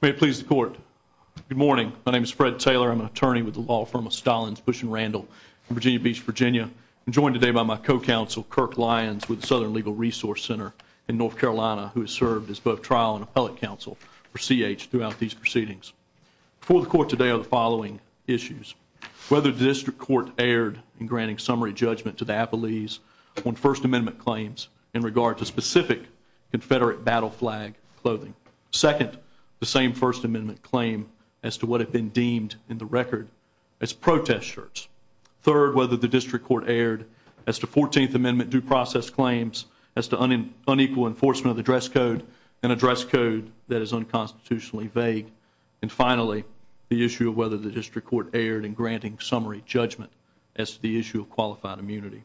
May it please the Court. Good morning. My name is Fred Taylor. I'm an attorney with the law firm of Stalins, Bush & Randall in Virginia Beach, Virginia. I'm joined today by my co-counsel, Kirk Lyons, with the Southern Legal Resource Center in North Carolina, who has served as both trial and appellate counsel for C. H. throughout these proceedings. Before the Court today are the following issues. Whether the District Court erred in granting summary judgment to the Appellees on First Amendment claims in regard to specific Confederate battle flag clothing. Second, the same First Amendment claim as to what had been deemed in the record as protest shirts. Third, whether the District Court erred as to 14th Amendment due process claims as to unequal enforcement of the dress code, an address code that is unconstitutionally vague. And finally, the issue of whether the District Court erred in granting summary judgment as to the issue of qualified immunity.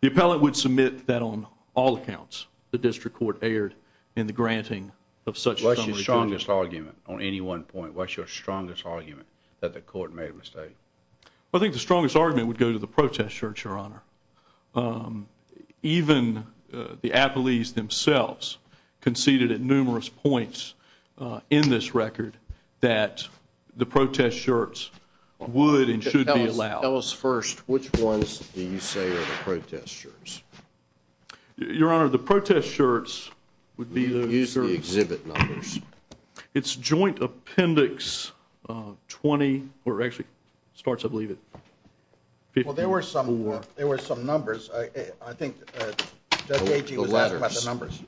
The appellate would submit that on all accounts the District Court erred in the granting of such summary judgment. What's your strongest argument on any one point? What's your strongest argument that the Court made a mistake? I think the strongest argument would go to the protest shirts, Your Honor. Even the Appellees themselves conceded at numerous points in this record that the protest shirts would and should be allowed. Tell us first, which ones do you say are the protest shirts? Your Honor, the protest shirts would be the exhibit numbers. It's Joint Appendix 20, or actually it starts, I believe, at 54. Well, there were some numbers. I think Judge Agee was asking about the numbers.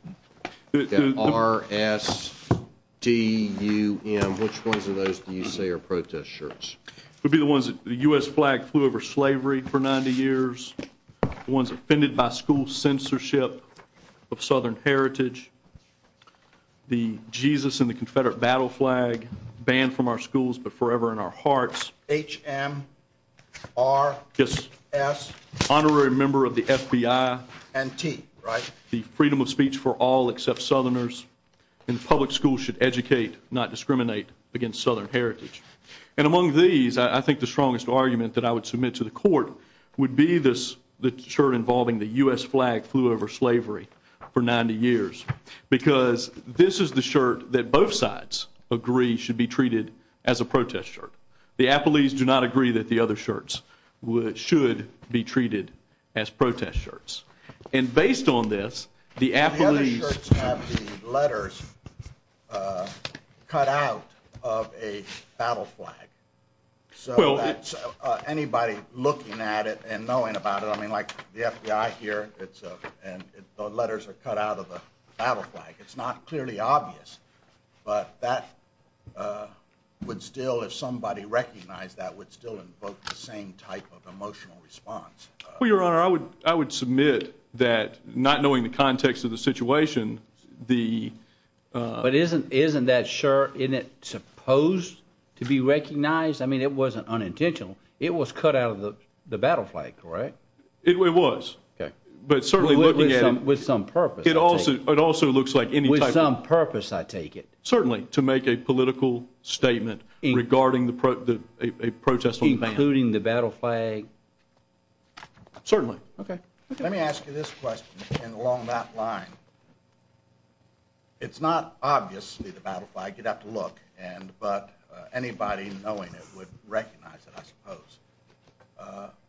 The letters. The R-S-T-U-M. Which ones of those do you say are protest shirts? It would be the ones that the U.S. flag flew over slavery for 90 years, the ones offended by school censorship of Southern heritage, the Jesus and the Confederate battle flag banned from our schools but forever in our hearts. H-M-R-S. Honorary member of the FBI. And T, right? The freedom of speech for all except Southerners, and public schools should educate, not discriminate, against the U.S. flag. The other shirt that I would submit to the court would be the shirt involving the U.S. flag flew over slavery for 90 years, because this is the shirt that both sides agree should be treated as a protest shirt. The Appellees do not agree that the other shirts should be treated as protest shirts. And based on this, the Appellees... The other shirts have the letters cut out of a battle flag. So that's... Well... And the letters are cut out of a battle flag. It's not clearly obvious, but that would still, if somebody recognized that, would still invoke the same type of emotional response. Well, Your Honor, I would submit that, not knowing the context of the situation, the... But isn't that shirt, isn't it supposed to be recognized? I mean, it wasn't unintentional. It was cut out of the battle flag, correct? It was. Okay. But certainly looking at it... With some purpose, I take it. It also looks like any type of... With some purpose, I take it. Certainly. To make a political statement regarding the protest... Including the battle flag. Certainly. Okay. Let me ask you this question, and along that line. It's not obviously the battle flag. You'd have to look. But anybody knowing it would recognize it, I suppose.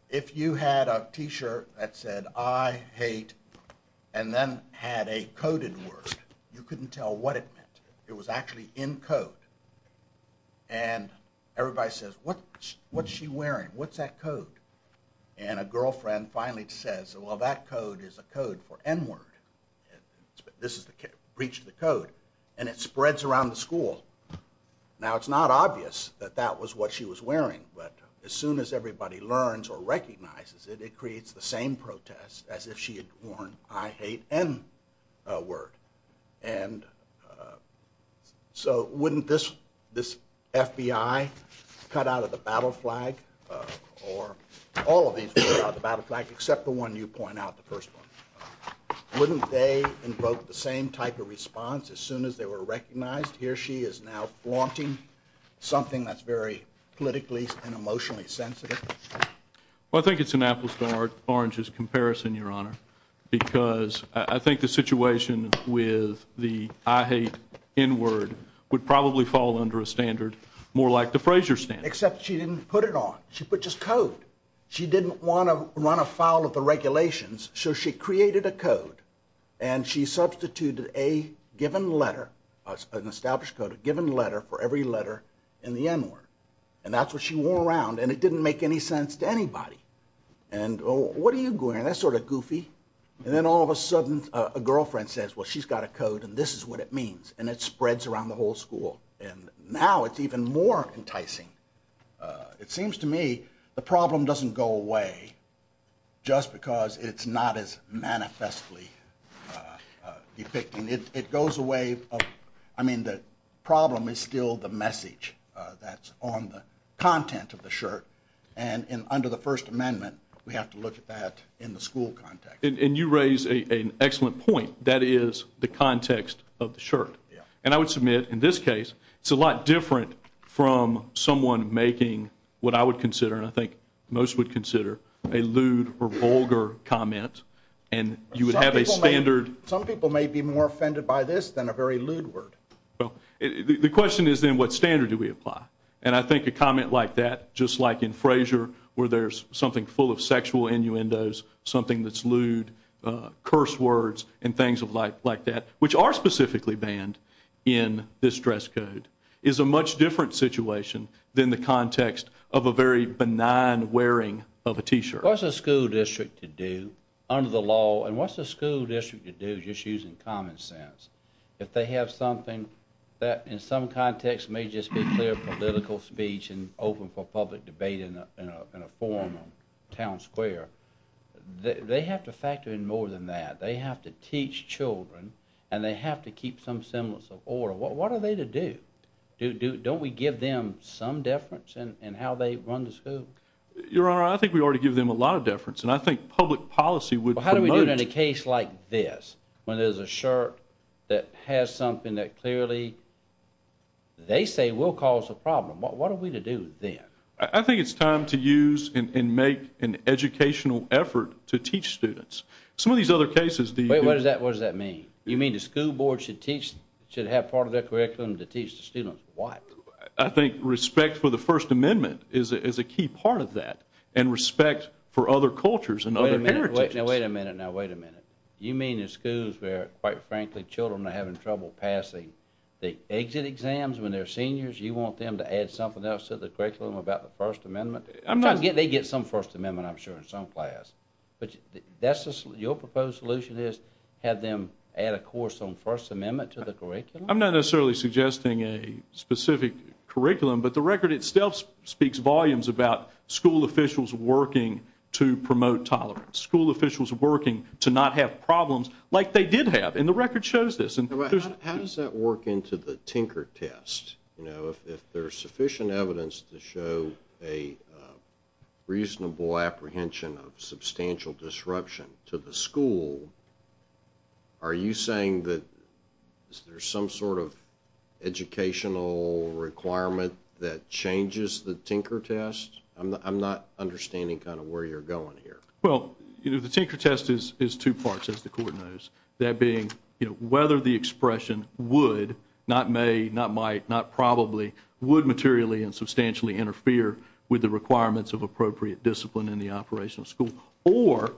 If you had a t-shirt that said, I hate... And then had a coded word, you couldn't tell what it meant. It was actually in code. And everybody says, what's she wearing? What's that code? And a girlfriend finally says, well, that code is a code for N-word. This is the... Breached the code. And it spreads around the school. Now, it's not obvious that that was what she was wearing. But as soon as everybody learns or recognizes it, it creates the same protest as if she had worn, I hate N-word. And so wouldn't this FBI cut out of the battle flag, or all of these cut out of the battle flag, except the one you point out, the first one. Wouldn't they invoke the same type of response as soon as they were recognized? Here she is now flaunting something that's very politically and emotionally sensitive. Well, I think it's an apple-starred orange's comparison, Your Honor. Because I think the situation with the I hate N-word would probably fall under a standard more like the Frazier standard. Except she didn't put it on. She put just code. She didn't want to run afoul of the regulations. So she created a code. And she substituted a given letter, an established code, a given letter for every letter in the N-word. And that's what she wore around. And it didn't make any sense to anybody. And, well, what are you wearing? That's sort of goofy. And then all of a sudden, a girlfriend says, well, she's got a code and this is what it means. And it spreads around the whole school. And now it's even more enticing. It seems to me the problem doesn't go away just because it's not as manifestly depicting. It goes away. I mean, the problem is still the message that's on the content of the shirt. And under the First Amendment, we have to look at that in the school context. And you raise an excellent point. That is the context of the shirt. And I would submit in this case, it's a lot different from someone making what I would consider, and I think most would consider, a lewd or vulgar comment. And you would have a standard. Some people may be more offended by this than a very lewd word. The question is then, what standard do we apply? And I think a comment like that, just like in Frasier, where there's something full of sexual innuendos, something that's lewd, curse words, and things like that, which are specifically banned in this dress code, is a much different situation than the context of a very benign wearing of a t-shirt. What's a school district to do under the law? And what's a school district to do, just using common sense? If they have something that in some context may just be clear political speech and open for public debate in a forum in a town square, they have to factor in more than that. They have to teach children, and they have to keep some semblance of order. What are they to do? Don't we give them some deference in how they run the school? Your Honor, I think we already give them a lot of deference, and I think public policy would promote- How do we do it in a case like this, when there's a shirt that has something that clearly, they say, will cause a problem? What are we to do then? I think it's time to use and make an educational effort to teach students. Some of these other cases- Wait, what does that mean? You mean the school board should have part of their curriculum to teach the students? What? I think respect for the First Amendment is a key part of that, and respect for other cultures and other heritages. Now wait a minute, now wait a minute. You mean in schools where, quite frankly, children are having trouble passing the exit exams when they're seniors, you want them to add something else to the curriculum about the First Amendment? I'm not- They get some First Amendment, I'm sure, in some class. But your proposed solution is have them add a course on First Amendment to the curriculum? I'm not necessarily suggesting a specific curriculum, but the record itself speaks volumes about school officials working to promote tolerance, school officials working to not have problems like they did have, and the record shows this. How does that work into the Tinker Test? If there's sufficient evidence to show a reasonable apprehension of substantial disruption to the school, are you saying that there's some sort of educational requirement that changes the Tinker Test? I'm not understanding kind of where you're going here. Well, the Tinker Test is two parts, as the Court knows, that being whether the expression would, not may, not might, not probably, would materially and substantially interfere with the requirements of appropriate discipline in the operation of school, or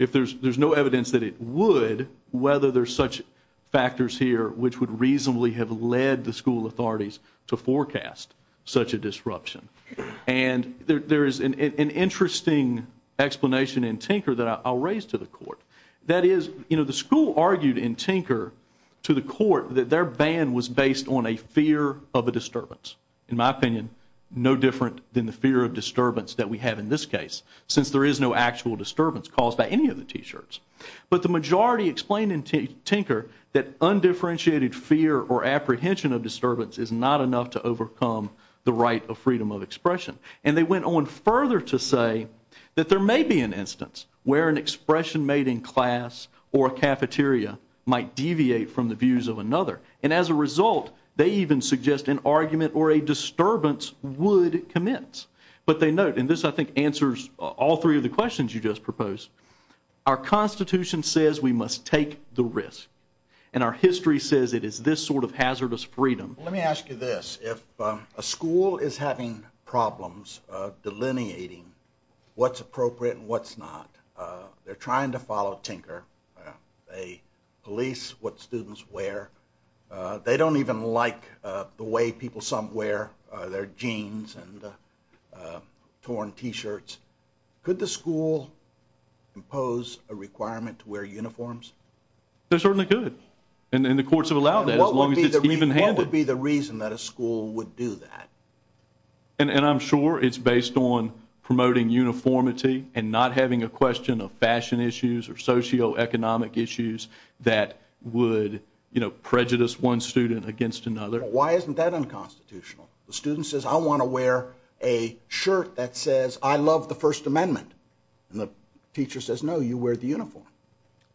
if there's no evidence that it would, whether there's such factors here which would reasonably have led the school authorities to forecast such a disruption. And there is an interesting explanation in Tinker that I'll raise to the Court. That is, you know, the school argued in Tinker to the Court that their ban was based on a fear of a disturbance. In my opinion, no different than the fear of disturbance that we have in this case, since there is no actual disturbance caused by any of the T-shirts. But the majority explained in Tinker that undifferentiated fear or apprehension of disturbance is not enough to overcome the right of freedom of expression. And they went on further to say that there may be an instance where an expression made in class or a cafeteria might deviate from the views of another. And as a result, they even suggest an argument or a disturbance would commence. But they note, and this I think answers all three of the questions you just proposed, our Constitution says we must take the risk. And our history says it is this sort of hazardous freedom. Let me ask you this. If a school is having problems delineating what's appropriate and what's not, they're trying to follow Tinker, they police what students wear, they don't even like the way people some wear their jeans and torn T-shirts, could the school impose a requirement to wear uniforms? They certainly could. And the courts have allowed that as long as it's even-handed. What would be the reason that a school would do that? And I'm sure it's based on promoting uniformity and not having a question of fashion issues or socioeconomic issues that would prejudice one student against another. Why isn't that unconstitutional? The student says, I want to wear a shirt that says, I love the First Amendment. And the teacher says, no, you wear the uniform.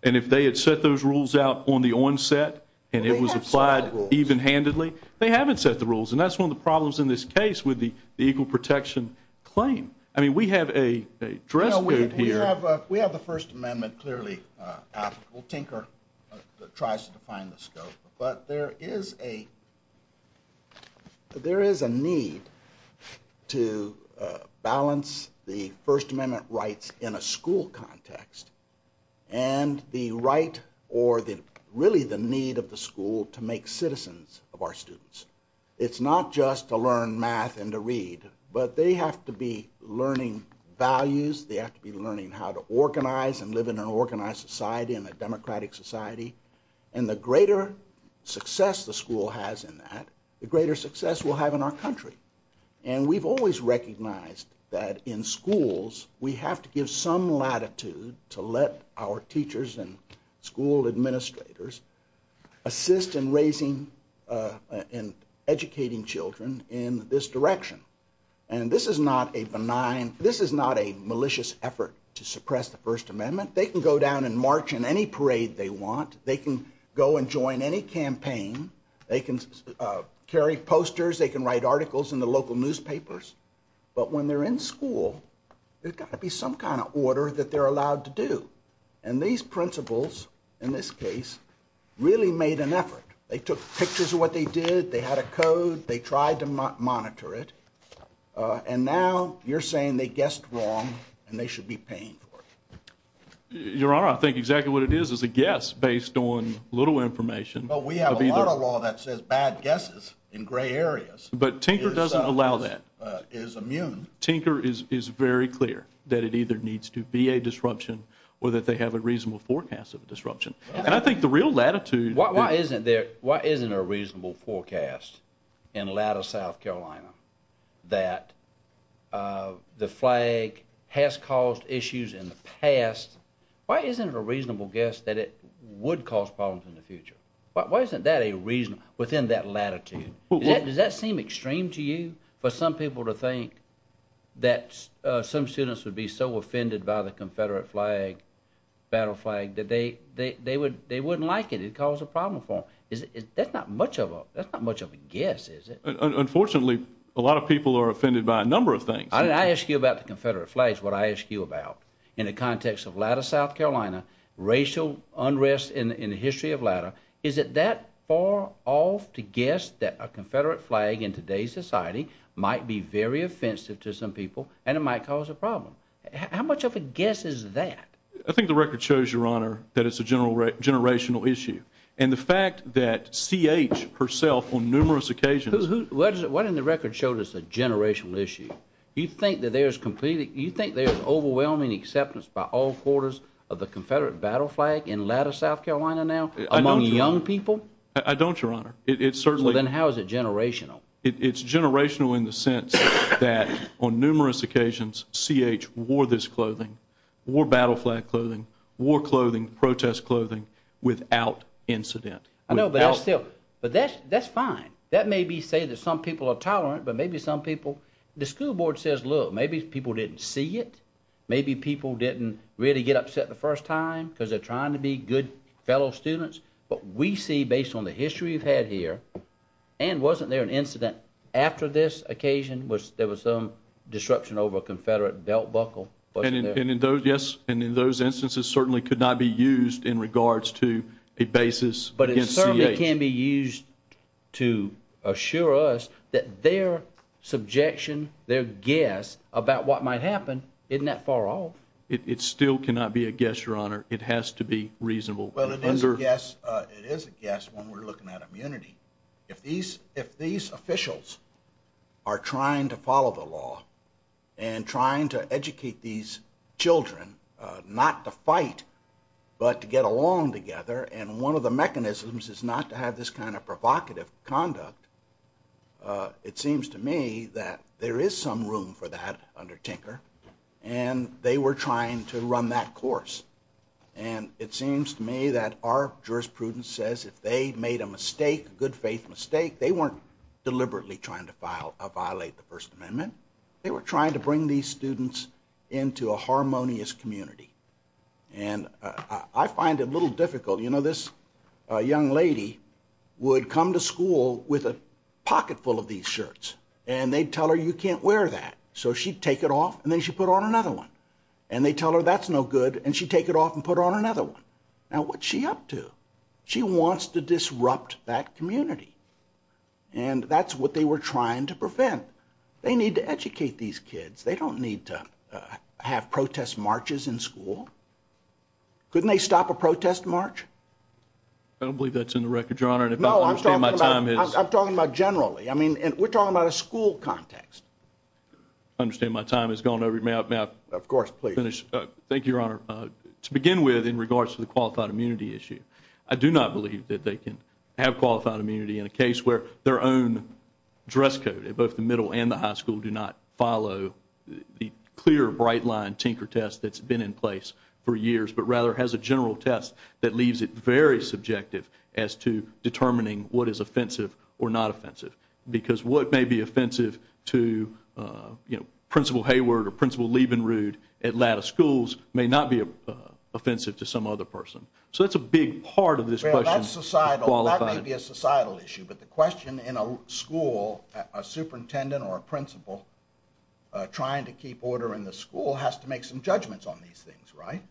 And if they had set those rules out on the onset and it was applied even-handedly, they haven't set the rules. And that's one of the problems in this case with the equal protection claim. I mean, we have a dress code here. We have the First Amendment clearly applicable. Tinker tries to define the scope. But there is a need to balance the First Amendment rights in a school context and the right or really the need of the school to make citizens of our students. It's not just to learn math and to read. But they have to be learning values. They have to be learning how to organize and live in an organized society and a democratic society. And the greater success the school has in that, the greater success we'll have in our country. And we've always recognized that in schools, we have to give some latitude to let our teachers and school administrators assist in raising and educating children in this direction. And this is not a malicious effort to suppress the First Amendment. They can go down and march in any parade they want. They can go and join any campaign. They can carry posters. They can write articles in the local newspapers. But when they're in school, there's got to be some kind of order that they're allowed to do. And these principals, in this case, really made an effort. They took pictures of what they did. They had a code. They tried to monitor it. And now you're saying they guessed wrong and they should be paying for it. Your Honor, I think exactly what it is is a guess based on little information. But we have a lot of law that says bad guesses in gray areas. But Tinker doesn't allow that. Is immune. Tinker is very clear that it either needs to be a disruption or that they have a reasonable forecast of a disruption. And I think the real latitude... Why isn't there a reasonable forecast in Latter South Carolina that the flag has caused issues in the past? Why isn't it a reasonable guess that it would cause problems in the future? Why isn't that a reason within that latitude? Does that seem extreme to you? For some people to think that some students would be so offended by the Confederate flag, battle flag, that they wouldn't like it. It would cause a problem for them. That's not much of a guess, is it? Unfortunately, a lot of people are offended by a number of things. I didn't ask you about the Confederate flag. It's what I asked you about. In the context of Latter South Carolina, racial unrest in the history of Latter, is it that far off to guess that a Confederate flag in today's society might be very offensive to some people and it might cause a problem? How much of a guess is that? I think the record shows, Your Honor, that it's a generational issue. And the fact that C.H. herself on numerous occasions... Why didn't the record show that it's a generational issue? You think there's overwhelming acceptance by all quarters of the Confederate battle flag in Latter South Carolina now among young people? I don't, Your Honor. Then how is it generational? It's generational in the sense that on numerous occasions, C.H. wore this clothing, wore battle flag clothing, wore clothing, protest clothing, without incident. I know, but that's fine. That may say that some people are tolerant, but maybe some people... The school board says, look, maybe people didn't see it. Maybe people didn't really get upset the first time because they're trying to be good fellow students. But we see, based on the history we've had here, and wasn't there an incident after this occasion where there was some disruption over a Confederate belt buckle? Yes, and in those instances, certainly could not be used in regards to a basis against C.H. But it certainly can be used to assure us that their subjection, their guess about what might happen, isn't that far off? It still cannot be a guess, Your Honor. It has to be reasonable. Well, it is a guess when we're looking at immunity. If these officials are trying to follow the law and trying to educate these children not to fight, but to get along together, and one of the mechanisms is not to have this kind of provocative conduct, it seems to me that there is some room for that under Tinker, and they were trying to run that course. And it seems to me that our jurisprudence says if they made a mistake, a good faith mistake, they weren't deliberately trying to violate the First Amendment. They were trying to bring these students into a harmonious community. And I find it a little difficult. You know, this young lady would come to school with a pocketful of these shirts, and they'd tell her, you can't wear that. So she'd take it off, and then she'd put on another one. And they'd tell her, that's no good, and she'd take it off and put on another one. Now, what's she up to? She wants to disrupt that community. And that's what they were trying to prevent. They need to educate these kids. They don't need to have protest marches in school. Couldn't they stop a protest march? I don't believe that's in the record, Your Honor. No, I'm talking about generally. I mean, we're talking about a school context. I understand my time has gone over. May I finish? Of course, please. Thank you, Your Honor. To begin with, in regards to the qualified immunity issue, I do not believe that they can have qualified immunity in a case where their own dress code, both the middle and the high school, do not follow the clear, bright-line tinker test that's been in place for years, but rather has a general test that leaves it very subjective as to determining what is offensive or not offensive. Because what may be offensive to, you know, Principal Hayward or Principal Liebenrud at latter schools may not be offensive to some other person. So that's a big part of this question. That's societal. That may be a societal issue. But the question in a school, a superintendent or a principal trying to keep order in the school has to make some judgments on these things, right?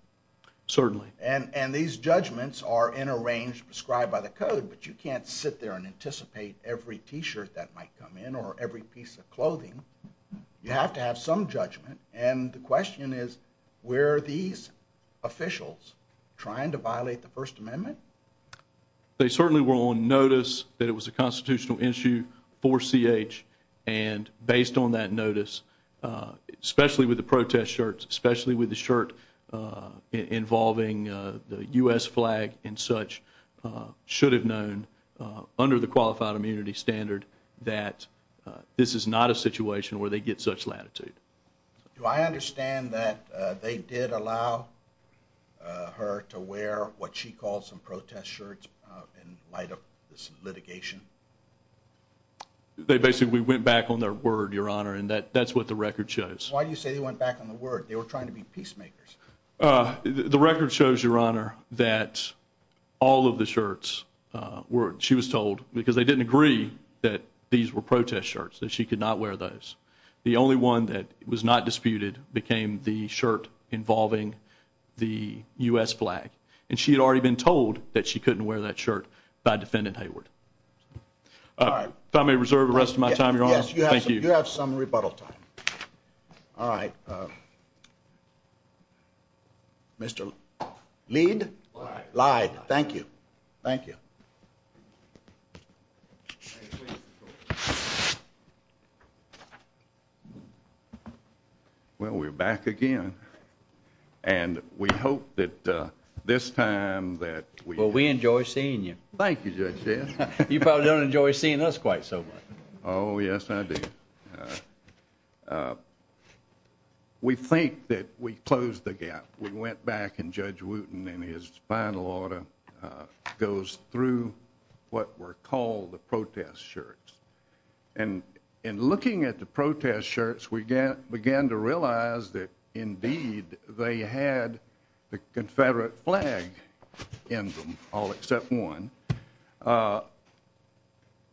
Certainly. And these judgments are in a range prescribed by the code, but you can't sit there and anticipate every T-shirt that might come in or every piece of clothing. You have to have some judgment. And the question is, were these officials trying to violate the First Amendment? They certainly were on notice that it was a constitutional issue for CH, and based on that notice, especially with the protest shirts, especially with the shirt involving the U.S. flag and such, should have known under the qualified immunity standard that this is not a situation where they get such latitude. Do I understand that they did allow her to wear what she calls some protest shirts in light of this litigation? They basically went back on their word, Your Honor, and that's what the record shows. Why do you say they went back on their word? They were trying to be peacemakers. The record shows, Your Honor, that all of the shirts were, she was told, because they didn't agree that these were protest shirts, that she could not wear those. The only one that was not disputed became the shirt involving the U.S. flag. And she had already been told that she couldn't wear that shirt by Defendant Hayward. If I may reserve the rest of my time, Your Honor. Thank you. You have some rebuttal time. All right. Mr. Lead? Lied. Lied. Thank you. Thank you. Well, we're back again, and we hope that this time that we- Well, we enjoy seeing you. Thank you, Judge Smith. You probably don't enjoy seeing us quite so much. Oh, yes, I do. We think that we closed the gap. We went back, and Judge Wooten, in his final order, goes through what were called the protest shirts. And in looking at the protest shirts, we began to realize that, indeed, they had the Confederate flag in them, all except one.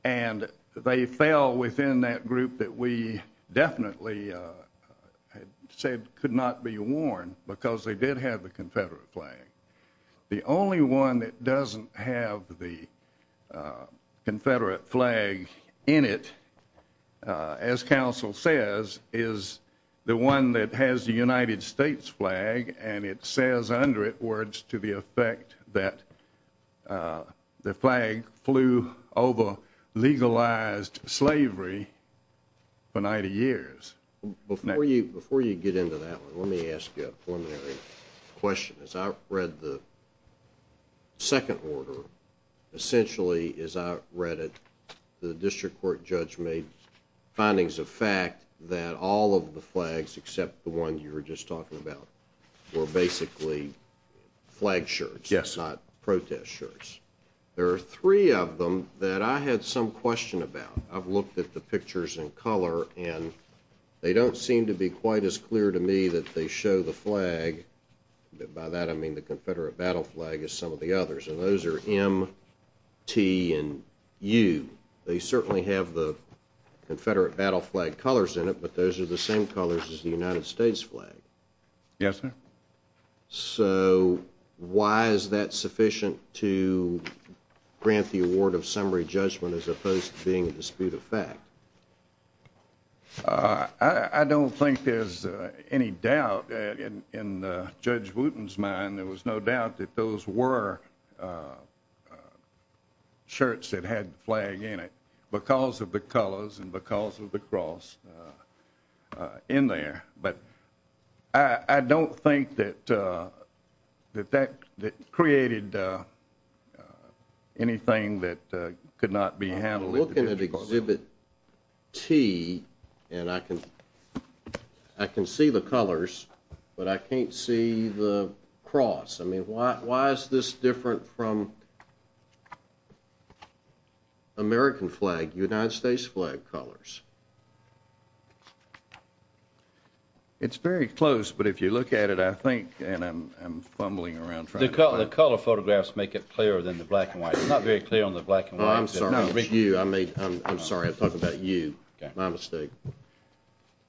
And they fell within that group that we definitely said could not be worn because they did have the Confederate flag. The only one that doesn't have the Confederate flag in it, as counsel says, is the one that has the United States flag, and it says under it words to the effect that the flag flew over legalized slavery for 90 years. Before you get into that one, let me ask you a preliminary question. As I read the second order, essentially, as I read it, the district court judge made findings of fact that all of the flags, except the one you were just talking about, were basically flag shirts, not protest shirts. There are three of them that I had some question about. I've looked at the pictures in color, and they don't seem to be quite as clear to me that they show the flag. By that, I mean the Confederate battle flag as some of the others, and those are M, T, and U. They certainly have the Confederate battle flag colors in it, but those are the same colors as the United States flag. Yes, sir. So why is that sufficient to grant the award of summary judgment as opposed to being a dispute of fact? I don't think there's any doubt. In Judge Wooten's mind, there was no doubt that those were shirts that had the flag in it because of the colors and because of the cross in there. But I don't think that that created anything that could not be handled. I'm looking at Exhibit T, and I can see the colors, but I can't see the cross. I mean, why is this different from American flag, United States flag colors? It's very close, but if you look at it, I think, and I'm fumbling around trying to find it. The color photographs make it clearer than the black and white. It's not very clear on the black and white. I'm sorry, I'm talking about you, my mistake.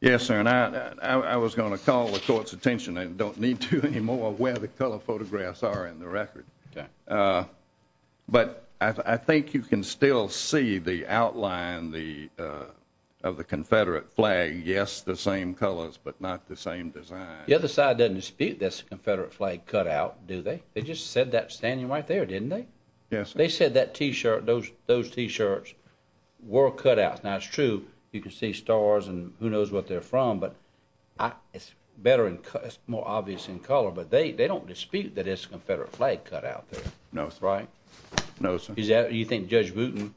Yes, sir, and I was going to call the Court's attention, and don't need to anymore, where the color photographs are in the record. But I think you can still see the outline of the Confederate flag. Yes, the same colors, but not the same design. The other side doesn't dispute that's a Confederate flag cutout, do they? They just said that standing right there, didn't they? Yes, sir. They said that T-shirt, those T-shirts were cutouts. Now, it's true you can see stars and who knows what they're from, but it's more obvious in color, but they don't dispute that it's a Confederate flag cutout there. No, sir. Right? No, sir. You think Judge Wooten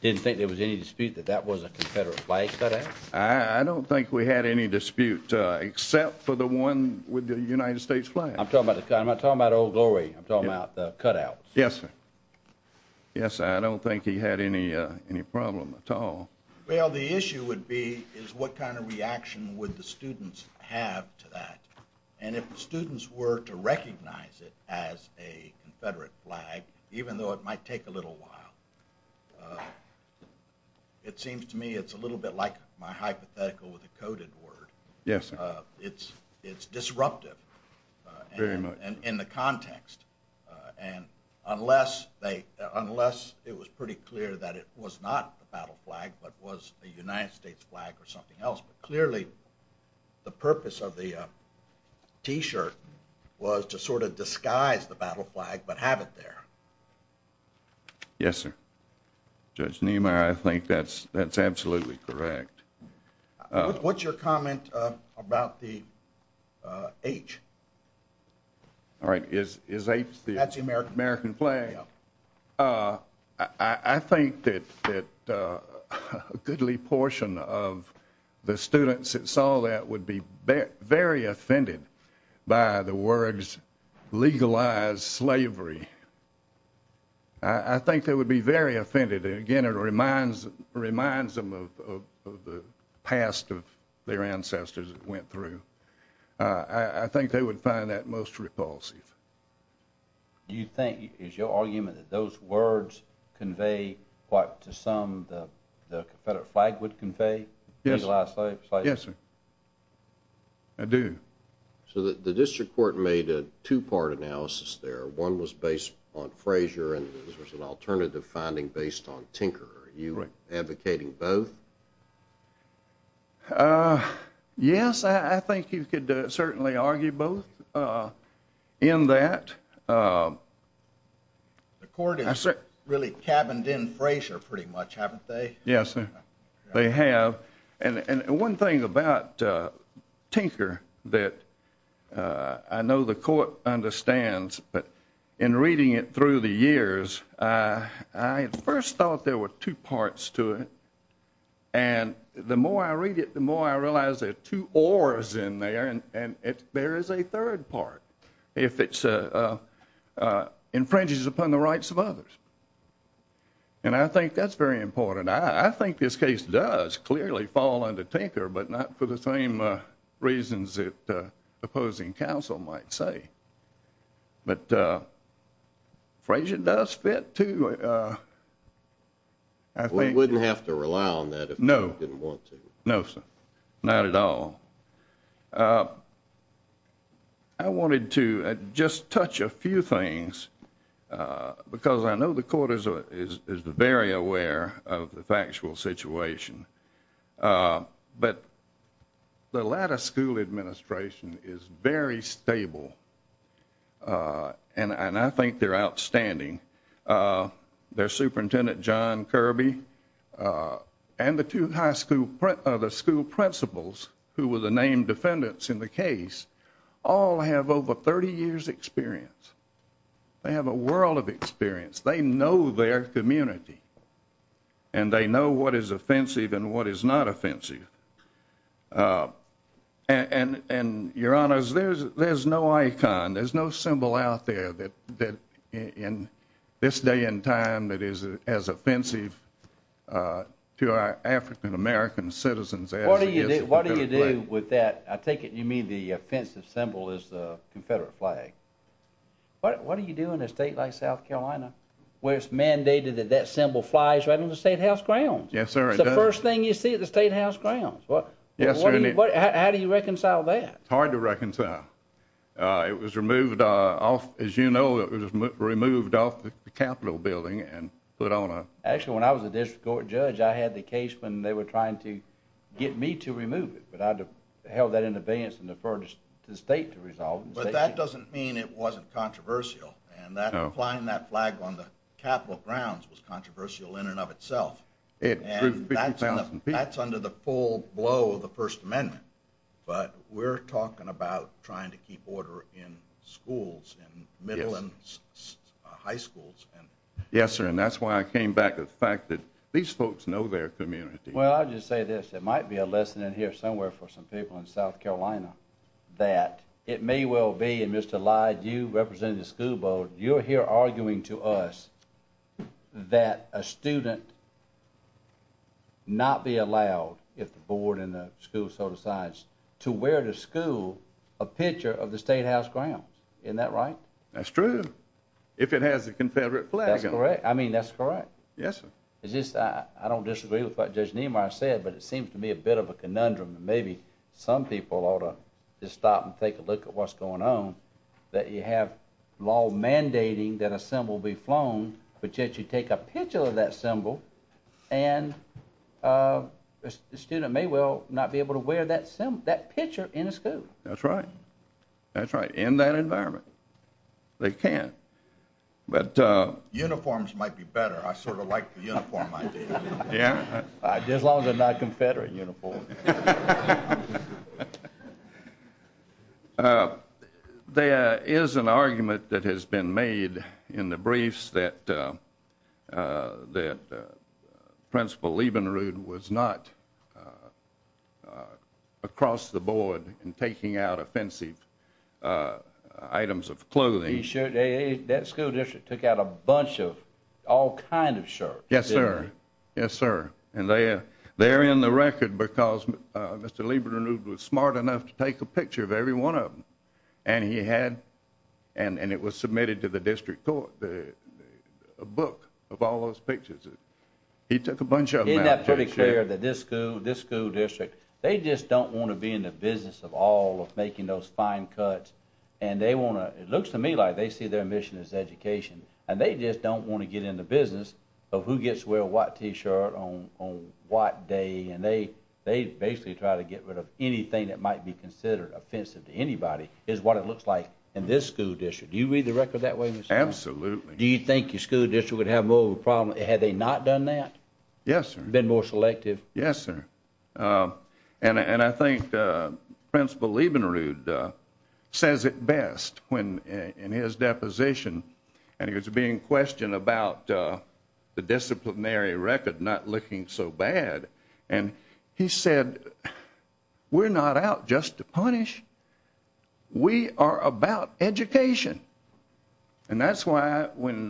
didn't think there was any dispute that that was a Confederate flag cutout? I don't think we had any dispute except for the one with the United States flag. I'm talking about Old Glory. I'm talking about the cutouts. Yes, sir. Yes, sir, I don't think he had any problem at all. Well, the issue would be is what kind of reaction would the students have to that? And if the students were to recognize it as a Confederate flag, even though it might take a little while, it seems to me it's a little bit like my hypothetical with a coded word. Yes, sir. It's disruptive. Very much. In the context. And unless it was pretty clear that it was not a battle flag but was a United States flag or something else, but clearly the purpose of the T-shirt was to sort of disguise the battle flag but have it there. Yes, sir. Judge Niemeyer, I think that's absolutely correct. What's your comment about the H? All right. Is H the American flag? I think that a goodly portion of the students that saw that would be very offended by the words legalize slavery. I think they would be very offended. Again, it reminds them of the past of their ancestors that went through. I think they would find that most repulsive. Do you think, is your argument that those words convey what to some the Confederate flag would convey, legalize slavery? Yes, sir. I do. So the district court made a two-part analysis there. One was based on Frazier and there was an alternative finding based on Tinker. Are you advocating both? Yes, I think you could certainly argue both in that. The court has really cabined in Frazier pretty much, haven't they? Yes, sir. They have. And one thing about Tinker that I know the court understands, but in reading it through the years, I at first thought there were two parts to it. And the more I read it, the more I realize there are two ors in there and there is a third part. If it infringes upon the rights of others. And I think that's very important. I think this case does clearly fall under Tinker, but not for the same reasons that opposing counsel might say. But Frazier does fit, too. We wouldn't have to rely on that if we didn't want to. No, sir. Not at all. I wanted to just touch a few things because I know the court is very aware of the factual situation. But the latter school administration is very stable and I think they're outstanding. Their superintendent, John Kirby, and the two high school principals who were the named defendants in the case, all have over 30 years' experience. They have a world of experience. They know their community. And they know what is offensive and what is not offensive. And, Your Honors, there's no icon, there's no symbol out there that in this day and time that is as offensive to our African-American citizens as it is to the Confederate flag. What do you do with that? I take it you mean the offensive symbol is the Confederate flag. What do you do in a state like South Carolina where it's mandated that that symbol flies right on the Statehouse grounds? Yes, sir, it does. That's the first thing you see at the Statehouse grounds? Yes, sir. How do you reconcile that? It's hard to reconcile. It was removed off, as you know, it was removed off the Capitol building and put on a... Actually, when I was a district court judge, I had the case when they were trying to get me to remove it. But I held that in advance and deferred to the state to resolve it. But that doesn't mean it wasn't controversial. Flying that flag on the Capitol grounds was controversial in and of itself. And that's under the full blow of the First Amendment. But we're talking about trying to keep order in schools, in middle and high schools. Yes, sir, and that's why I came back to the fact that these folks know their community. Well, I'll just say this. There might be a lesson in here somewhere for some people in South Carolina that it may well be, and Mr. Lyde, you represent the school board, you're here arguing to us that a student not be allowed, if the board and the school so decides, to wear to school a picture of the Statehouse grounds. Isn't that right? That's true. If it has a Confederate flag on it. That's correct. I mean, that's correct. Yes, sir. It's just I don't disagree with what Judge Niemeyer said, but it seems to me a bit of a conundrum, and maybe some people ought to just stop and take a look at what's going on, that you have law mandating that a symbol be flown, but yet you take a picture of that symbol, and the student may well not be able to wear that picture in a school. That's right. That's right. In that environment, they can't. Uniforms might be better. I sort of like the uniform idea. Yeah? As long as it's not a Confederate uniform. There is an argument that has been made in the briefs that Principal Liebenrud was not across the board in taking out offensive items of clothing. That school district took out a bunch of all kinds of shirts. Yes, sir. Yes, sir. And they're in the record because Mr. Liebenrud was smart enough to take a picture of every one of them, and it was submitted to the district court, a book of all those pictures. He took a bunch of them out. Isn't that pretty clear, that this school district, they just don't want to be in the business of all of making those fine cuts, and they want to, it looks to me like they see their mission as education, and they just don't want to get in the business of who gets to wear what T-shirt on what day, and they basically try to get rid of anything that might be considered offensive to anybody is what it looks like in this school district. Do you read the record that way? Absolutely. Do you think your school district would have more of a problem had they not done that? Yes, sir. Been more selective? Yes, sir. And I think Principal Liebenrud says it best in his deposition, and he was being questioned about the disciplinary record not looking so bad, and he said, we're not out just to punish. We are about education. And that's why when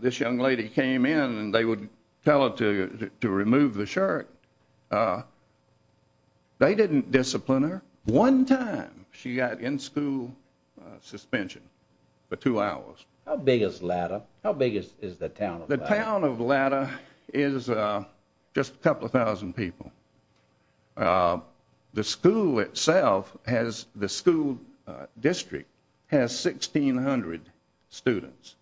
this young lady came in and they would tell her to remove the shirt, they didn't discipline her. One time she got in-school suspension for two hours. How big is Latta? How big is the town of Latta? The town of Latta is just a couple of thousand people. The school itself has the school district has 1,600 students.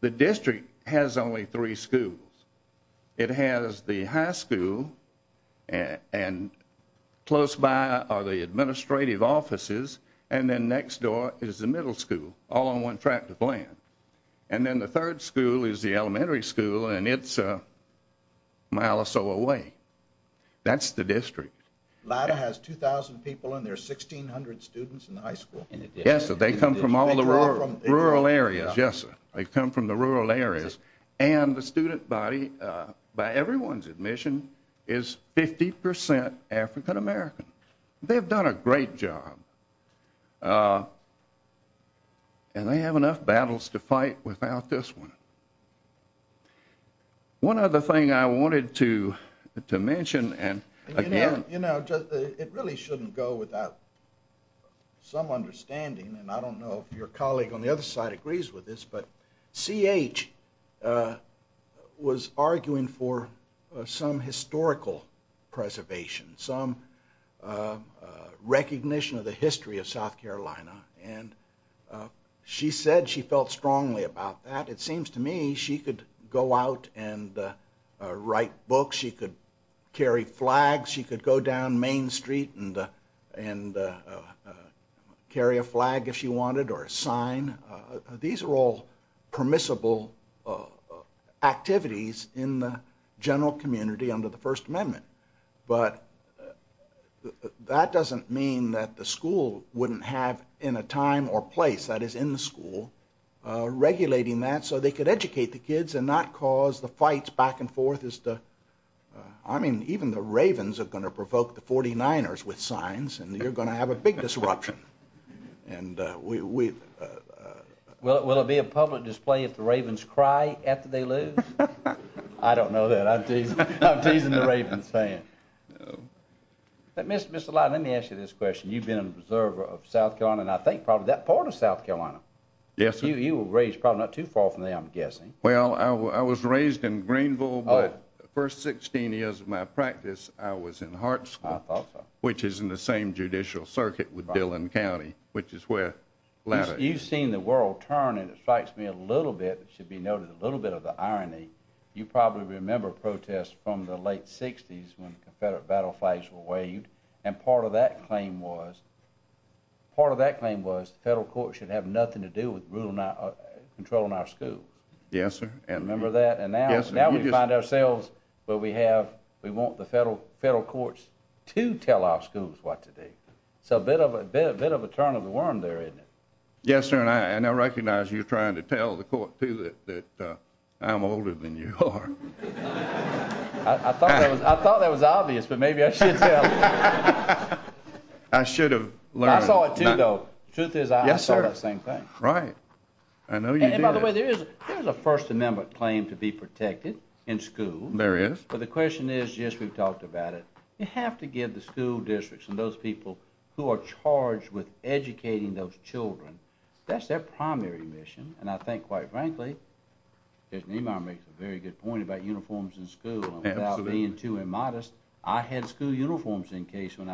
The district has only three schools. It has the high school, and close by are the administrative offices, and then next door is the middle school, all on one tract of land. And then the third school is the elementary school, and it's a mile or so away. That's the district. Latta has 2,000 people, and there are 1,600 students in the high school? Yes, sir. They come from all the rural areas, yes, sir. They come from the rural areas. And the student body, by everyone's admission, is 50% African-American. They've done a great job. And they have enough battles to fight without this one. One other thing I wanted to mention, and again... You know, it really shouldn't go without some understanding, and I don't know if your colleague on the other side agrees with this, but C.H. was arguing for some historical preservation, some recognition of the history of South Carolina, and she said she felt strongly about that. It seems to me she could go out and write books. She could carry flags. She could go down Main Street and carry a flag if she wanted or a sign. These are all permissible activities in the general community under the First Amendment, but that doesn't mean that the school wouldn't have in a time or place, that is, in the school, regulating that so they could educate the kids and not cause the fights back and forth. I mean, even the Ravens are going to provoke the 49ers with signs, and you're going to have a big disruption. Will it be a public display if the Ravens cry after they lose? I don't know that. I'm teasing the Ravens fan. Mr. Lyden, let me ask you this question. You've been a preserver of South Carolina, and I think probably that part of South Carolina. Yes, sir. You were raised probably not too far from there, I'm guessing. Well, I was raised in Greenville, but the first 16 years of my practice, I was in Hart School, which is in the same judicial circuit with Dillon County, which is where Laddick... You've seen the world turn, and it strikes me a little bit, and it should be noted a little bit of the irony. You probably remember protests from the late 60s when Confederate battle flags were waved, and part of that claim was the federal courts should have nothing to do with controlling our schools. Yes, sir. Remember that? Yes, sir. And now we find ourselves where we want the federal courts to tell our schools what to do. So a bit of a turn of the worm there, isn't it? Yes, sir, and I recognize you're trying to tell the court, too, that I'm older than you are. I thought that was obvious, but maybe I should tell you. I should have learned. I saw it, too, though. The truth is I saw that same thing. Right. I know you did. And by the way, there is a First Amendment claim to be protected in school. There is. But the question is, just we've talked about it, you have to give the school districts and those people who are charged with educating those children, that's their primary mission. And I think, quite frankly, as Neymar makes a very good point about uniforms in school, and without being too immodest, I had school uniform cases in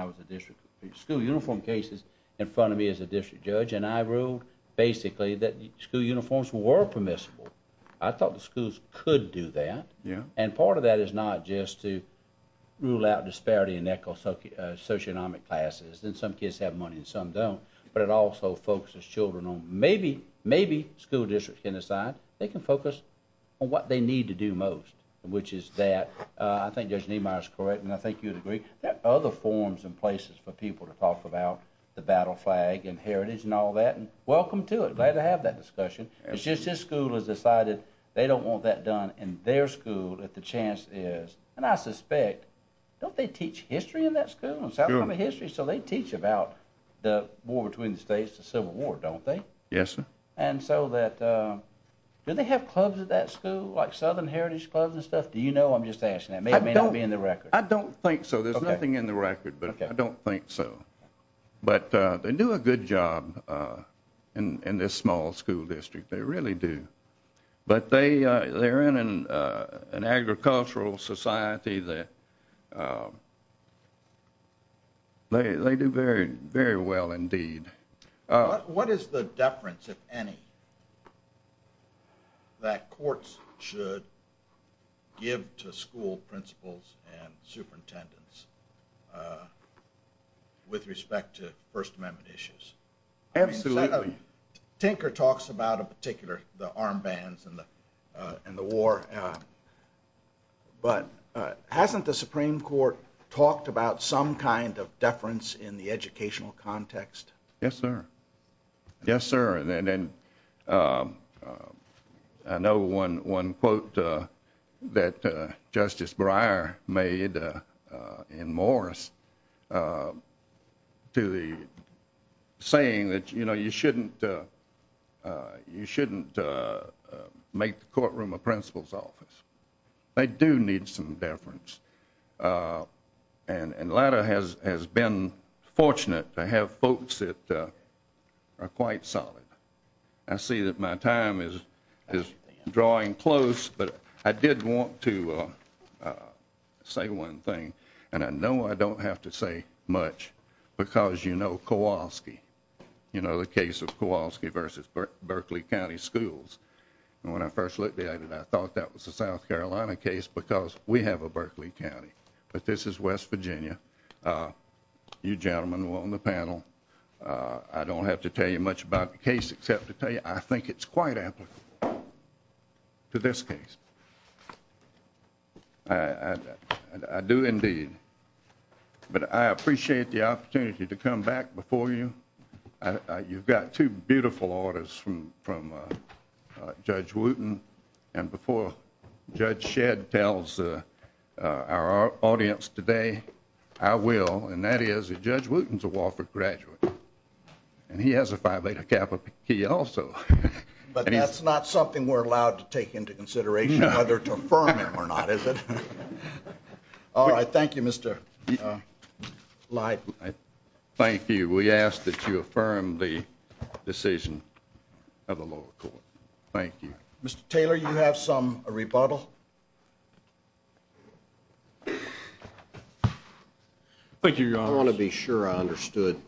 front of me as a district judge, and I ruled basically that school uniforms were permissible. I thought the schools could do that. Yeah. And part of that is not just to rule out disparity in socioeconomic classes, and some kids have money and some don't, but it also focuses children on maybe school districts can decide they can focus on what they need to do most, which is that, I think Judge Neymar is correct, and I think you would agree, there are other forms and places for people to talk about the battle flag and heritage and all that, and welcome to it. Glad to have that discussion. It's just this school has decided they don't want that done, and their school, if the chance is, and I suspect, don't they teach history in that school? Sure. So they teach about the war between the states, the Civil War, don't they? Yes, sir. And so that, do they have clubs at that school, like Southern Heritage Clubs and stuff? Do you know? I'm just asking. It may or may not be in the record. I don't think so. Okay. There's nothing in the record, but I don't think so. But they do a good job in this small school district. They really do. But they're in an agricultural society that they do very well indeed. What is the deference, if any, that courts should give to school principals and superintendents with respect to First Amendment issues? Absolutely. Tinker talks about a particular, the armbands and the war, but hasn't the Supreme Court talked about some kind of deference in the educational context? Yes, sir. Yes, sir, and then I know one quote that Justice Breyer made in Morris to the saying that, you know, you shouldn't make the courtroom a principal's office. They do need some deference. And the latter has been fortunate to have folks that are quite solid. I see that my time is drawing close, but I did want to say one thing, and I know I don't have to say much because you know Kowalski, you know the case of Kowalski v. Berkeley County Schools. And when I first looked at it, I thought that was a South Carolina case because we have a Berkeley County, but this is West Virginia. You gentlemen on the panel, I don't have to tell you much about the case except to tell you I think it's quite applicable to this case. I do indeed, but I appreciate the opportunity to come back before you. You've got two beautiful orders from Judge Wooten, and before Judge Shedd tells our audience today, I will, and that is that Judge Wooten is a Wofford graduate, and he has a Phi Beta Kappa key also. But that's not something we're allowed to take into consideration whether to affirm him or not, is it? All right. Thank you, Mr. Leib. Thank you. We ask that you affirm the decision of the lower court. Thank you. Mr. Taylor, you have some rebuttal? Thank you, Your Honor. I want to be sure I understood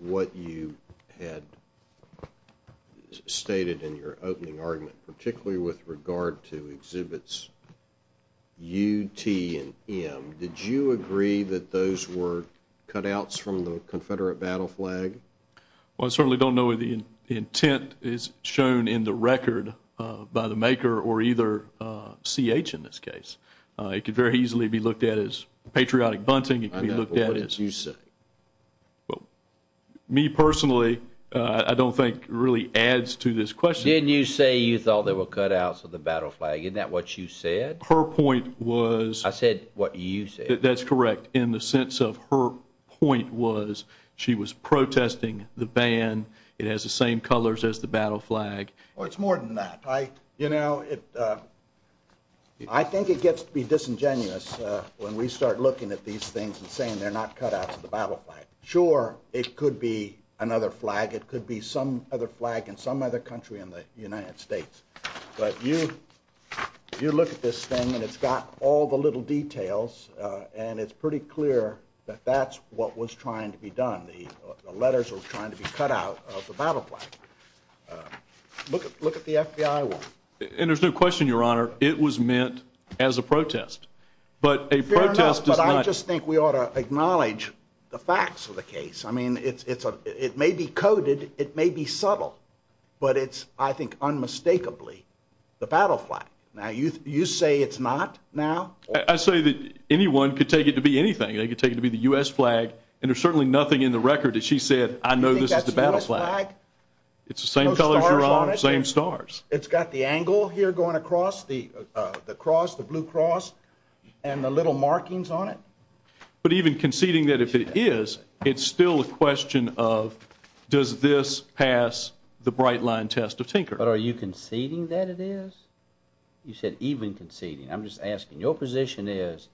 what you had stated in your opening argument, particularly with regard to Exhibits U, T, and M. Did you agree that those were cutouts from the Confederate battle flag? Well, I certainly don't know if the intent is shown in the record by the maker or either C.H. in this case. It could very easily be looked at as patriotic bunting. I know, but what did you say? Me, personally, I don't think really adds to this question. Didn't you say you thought there were cutouts of the battle flag? Isn't that what you said? Her point was— I said what you said. That's correct, in the sense of her point was she was protesting the ban. It has the same colors as the battle flag. Well, it's more than that. I think it gets to be disingenuous when we start looking at these things and saying they're not cutouts of the battle flag. Sure, it could be another flag. It could be some other flag in some other country in the United States. But you look at this thing, and it's got all the little details, and it's pretty clear that that's what was trying to be done. The letters were trying to be cut out of the battle flag. Look at the FBI one. And there's no question, Your Honor, it was meant as a protest. But a protest does not— Fair enough, but I just think we ought to acknowledge the facts of the case. I mean, it may be coded. It may be subtle. But it's, I think, unmistakably the battle flag. Now, you say it's not now? I say that anyone could take it to be anything. They could take it to be the U.S. flag, and there's certainly nothing in the record that she said, I know this is the battle flag. It's the same colors, Your Honor, the same stars. It's got the angle here going across the cross, the blue cross, and the little markings on it? But even conceding that if it is, it's still a question of does this pass the bright line test of Tinker? But are you conceding that it is? You said even conceding. I'm just asking. Your position is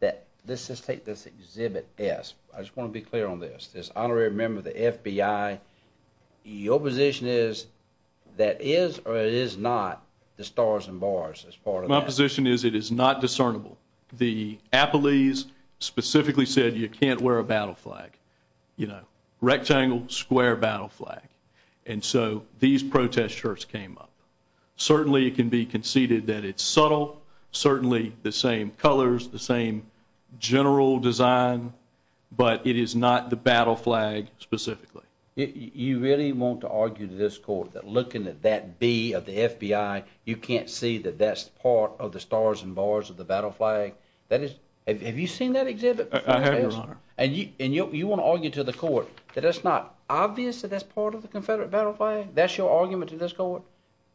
that—let's just take this Exhibit S. I just want to be clear on this. This honorary member of the FBI, your position is that is or is not the stars and bars as part of that? My position is it is not discernible. The appellees specifically said you can't wear a battle flag, you know, rectangle, square battle flag. And so these protest shirts came up. Certainly it can be conceded that it's subtle, certainly the same colors, the same general design, but it is not the battle flag specifically. You really want to argue to this court that looking at that B of the FBI, you can't see that that's part of the stars and bars of the battle flag? Have you seen that exhibit? I have, Your Honor. And you want to argue to the court that it's not obvious that that's part of the Confederate battle flag? That's your argument to this court?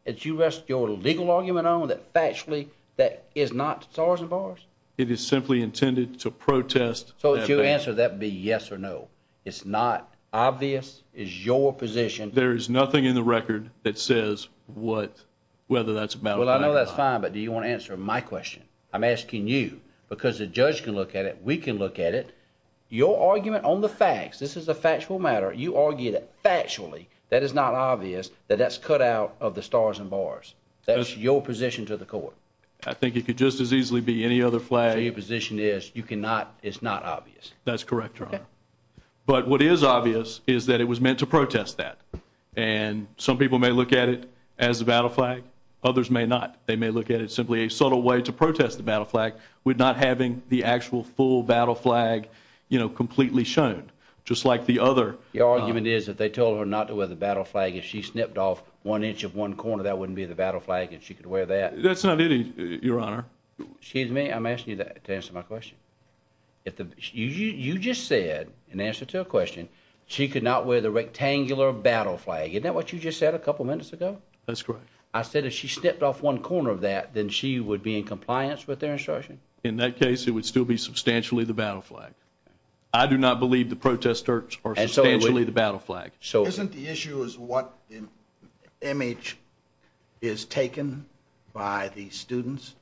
That you rest your legal argument on that factually that is not stars and bars? It is simply intended to protest— So if it's your answer, that would be yes or no. It's not obvious. It's your position. There is nothing in the record that says whether that's a battle flag or not. Well, I know that's fine, but do you want to answer my question? I'm asking you because the judge can look at it, we can look at it, your argument on the facts, this is a factual matter, you argue that factually that is not obvious, that that's cut out of the stars and bars. That's your position to the court? I think it could just as easily be any other flag. So your position is you cannot—it's not obvious? That's correct, Your Honor. But what is obvious is that it was meant to protest that. And some people may look at it as a battle flag, others may not. They may look at it simply as a subtle way to protest the battle flag with not having the actual full battle flag completely shown, just like the other. Your argument is if they told her not to wear the battle flag, if she snipped off one inch of one corner, that wouldn't be the battle flag and she could wear that? That's not it, Your Honor. Excuse me, I'm asking you to answer my question. You just said, in answer to a question, she could not wear the rectangular battle flag. Isn't that what you just said a couple minutes ago? That's correct. I said if she snipped off one corner of that, then she would be in compliance with their instruction? In that case, it would still be substantially the battle flag. I do not believe the protesters are substantially the battle flag. So isn't the issue is what image is taken by the students?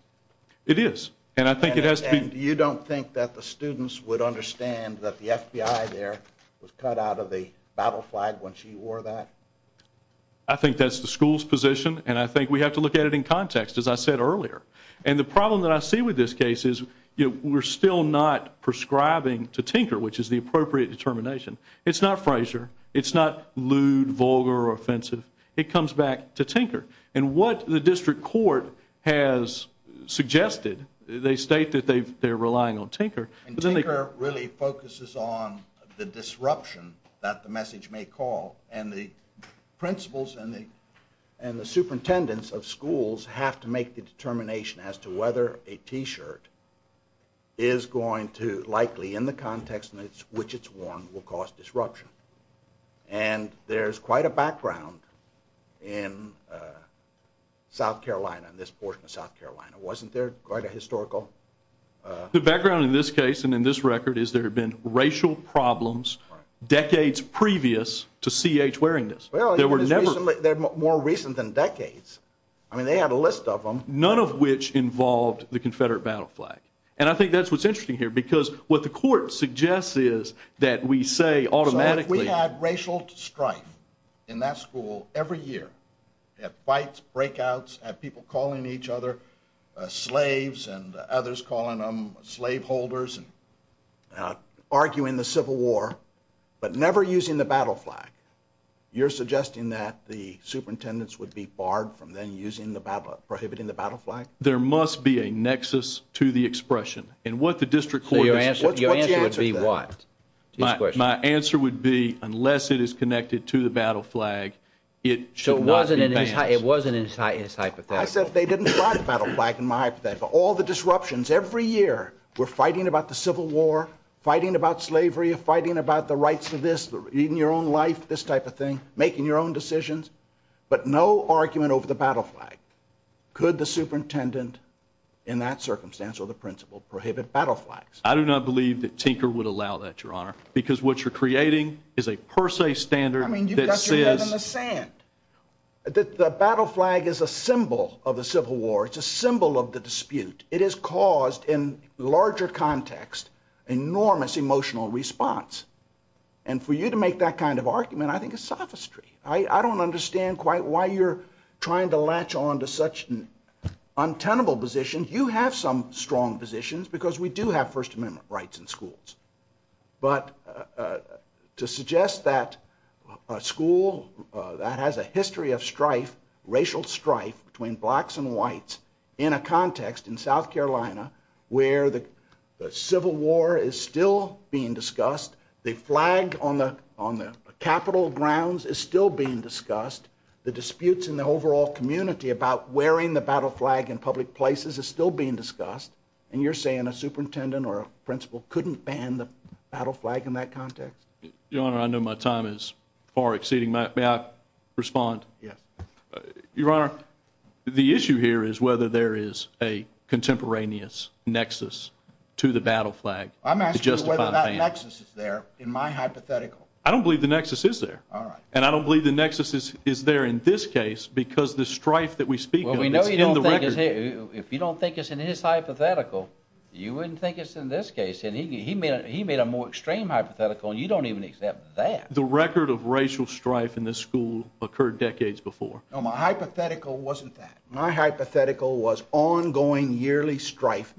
It is, and I think it has to be— And you don't think that the students would understand that the FBI there was cut out of the battle flag when she wore that? I think that's the school's position, and I think we have to look at it in context, as I said earlier. And the problem that I see with this case is we're still not prescribing to Tinker, which is the appropriate determination. It's not Frazier. It's not lewd, vulgar, or offensive. It comes back to Tinker. And what the district court has suggested, they state that they're relying on Tinker. And Tinker really focuses on the disruption that the message may call, and the principals and the superintendents of schools have to make the determination as to whether a T-shirt is going to likely, in the context in which it's worn, will cause disruption. And there's quite a background in South Carolina, in this portion of South Carolina. Wasn't there quite a historical— The background in this case and in this record is there have been racial problems decades previous to C.H. wearing this. There were never— Well, they're more recent than decades. I mean, they have a list of them. None of which involved the Confederate battle flag. And I think that's what's interesting here, because what the court suggests is that we say automatically— So if we had racial strife in that school every year, we'd have fights, breakouts, have people calling each other slaves and others calling them slaveholders and arguing the Civil War, but never using the battle flag, you're suggesting that the superintendents would be barred from then using the battle—prohibiting the battle flag? There must be a nexus to the expression. And what the district court— So your answer would be what? My answer would be, unless it is connected to the battle flag, it should not be banned. It wasn't in his hypothetical. I said they didn't fight the battle flag in my hypothetical. All the disruptions every year were fighting about the Civil War, fighting about slavery, fighting about the rights of this, eating your own life, this type of thing, making your own decisions, but no argument over the battle flag. Could the superintendent in that circumstance or the principal prohibit battle flags? I do not believe that Tinker would allow that, Your Honor, because what you're creating is a per se standard that says— If the battle flag is a symbol of the Civil War, it's a symbol of the dispute, it has caused, in larger context, enormous emotional response. And for you to make that kind of argument, I think it's sophistry. I don't understand quite why you're trying to latch on to such an untenable position. You have some strong positions because we do have First Amendment rights in schools. But to suggest that a school that has a history of strife, racial strife, between blacks and whites, in a context in South Carolina where the Civil War is still being discussed, the flag on the Capitol grounds is still being discussed, the disputes in the overall community about wearing the battle flag in public places is still being discussed, and you're saying a superintendent or a principal couldn't ban the battle flag in that context? Your Honor, I know my time is far exceeding. May I respond? Yes. Your Honor, the issue here is whether there is a contemporaneous nexus to the battle flag to justify the ban. I'm asking whether that nexus is there in my hypothetical. I don't believe the nexus is there. All right. And I don't believe the nexus is there in this case because the strife that we speak of is in the record. If you don't think it's in his hypothetical, you wouldn't think it's in this case. And he made a more extreme hypothetical, and you don't even accept that. The record of racial strife in this school occurred decades before. No, my hypothetical wasn't that. My hypothetical was ongoing yearly strife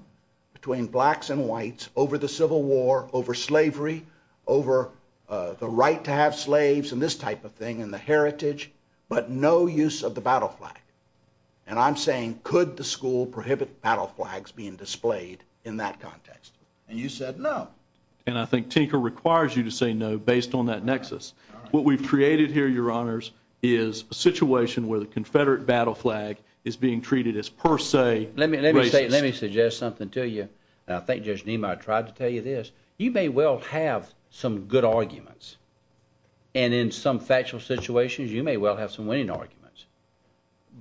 between blacks and whites over the Civil War, over slavery, over the right to have slaves and this type of thing and the heritage, but no use of the battle flag. And I'm saying could the school prohibit battle flags being displayed in that context? And you said no. And I think Tinker requires you to say no based on that nexus. All right. What we've created here, Your Honors, is a situation where the Confederate battle flag is being treated as per se racist. Let me suggest something to you. I think, Judge Niemeyer, I tried to tell you this. You may well have some good arguments, and in some factual situations, you may well have some winning arguments.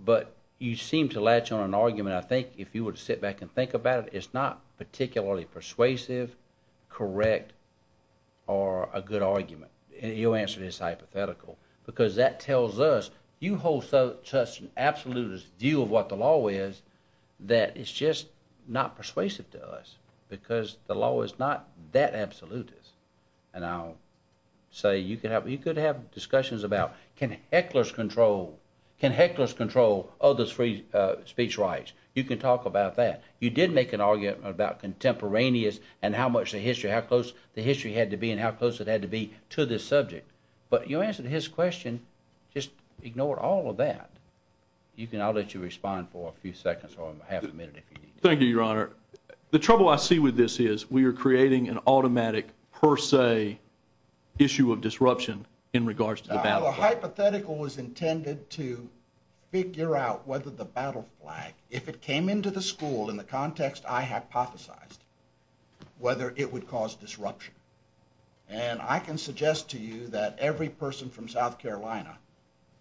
But you seem to latch on an argument. I think if you were to sit back and think about it, it's not particularly persuasive, correct, or a good argument. And your answer is hypothetical because that tells us you hold such an absolutist view of what the law is that it's just not persuasive to us because the law is not that absolutist. And I'll say you could have discussions about can hecklers control other's free speech rights. You can talk about that. You did make an argument about contemporaneous and how much the history had to be and how close it had to be to this subject. But your answer to his question, just ignore all of that. I'll let you respond for a few seconds or half a minute if you need to. Thank you, Your Honor. Your Honor, the trouble I see with this is we are creating an automatic per se issue of disruption in regards to the battle flag. The hypothetical was intended to figure out whether the battle flag, if it came into the school in the context I hypothesized, whether it would cause disruption. And I can suggest to you that every person from South Carolina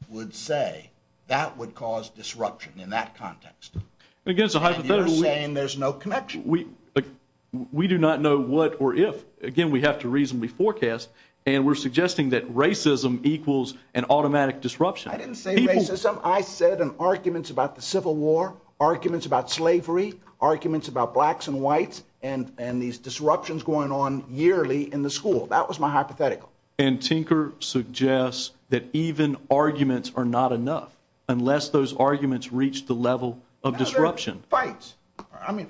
would say that would cause disruption in that context. And you're saying there's no connection. We do not know what or if. Again, we have to reasonably forecast. And we're suggesting that racism equals an automatic disruption. I didn't say racism. I said in arguments about the Civil War, arguments about slavery, arguments about blacks and whites and these disruptions going on yearly in the school. That was my hypothetical. And Tinker suggests that even arguments are not enough unless those arguments reach the level of disruption. And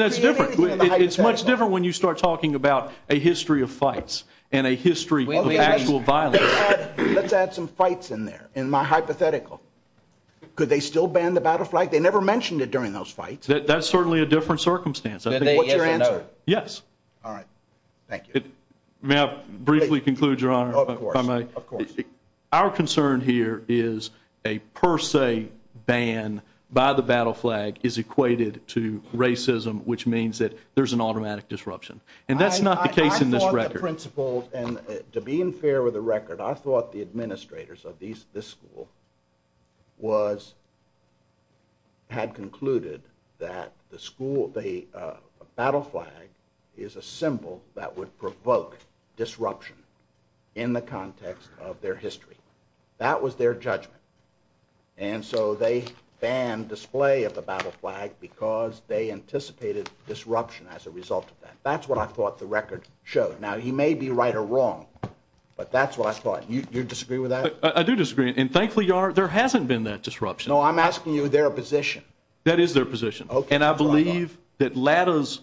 that's different. It's much different when you start talking about a history of fights and a history of actual violence. Let's add some fights in there in my hypothetical. Could they still ban the battle flag? They never mentioned it during those fights. That's certainly a different circumstance. What's your answer? Yes. All right. Thank you. May I briefly conclude, Your Honor, if I may? Of course. Our concern here is a per se ban by the battle flag is equated to racism, which means that there's an automatic disruption. And that's not the case in this record. I thought the principals, and to be fair with the record, I thought the administrators of this school had concluded that the battle flag is a symbol that would provoke disruption in the context of their history. That was their judgment. And so they banned display of the battle flag because they anticipated disruption as a result of that. That's what I thought the record showed. Now, you may be right or wrong, but that's what I thought. You disagree with that? I do disagree. And thankfully, Your Honor, there hasn't been that disruption. No, I'm asking you their position. That is their position. And I believe that Lata's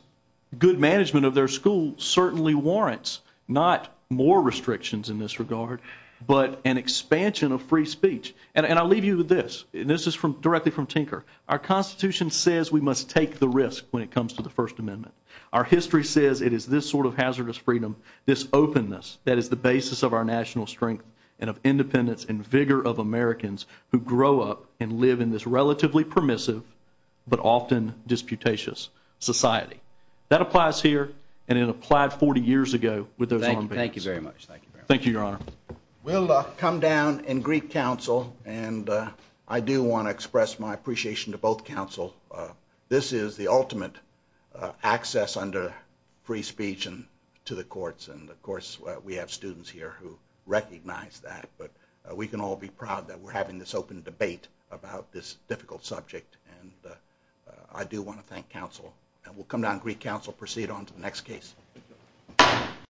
good management of their school certainly warrants not more restrictions in this regard, but an expansion of free speech. And I'll leave you with this, and this is directly from Tinker. Our Constitution says we must take the risk when it comes to the First Amendment. Our history says it is this sort of hazardous freedom, this openness that is the basis of our national strength and of independence and vigor of Americans who grow up and live in this relatively permissive, but often disputatious, society. That applies here, and it applied 40 years ago with those arms. Thank you very much. Thank you, Your Honor. We'll come down in Greek Council, and I do want to express my appreciation to both Council. This is the ultimate access under free speech and to the courts, and, of course, we have students here who recognize that. But we can all be proud that we're having this open debate about this difficult subject, and I do want to thank Council. And we'll come down in Greek Council, proceed on to the next case.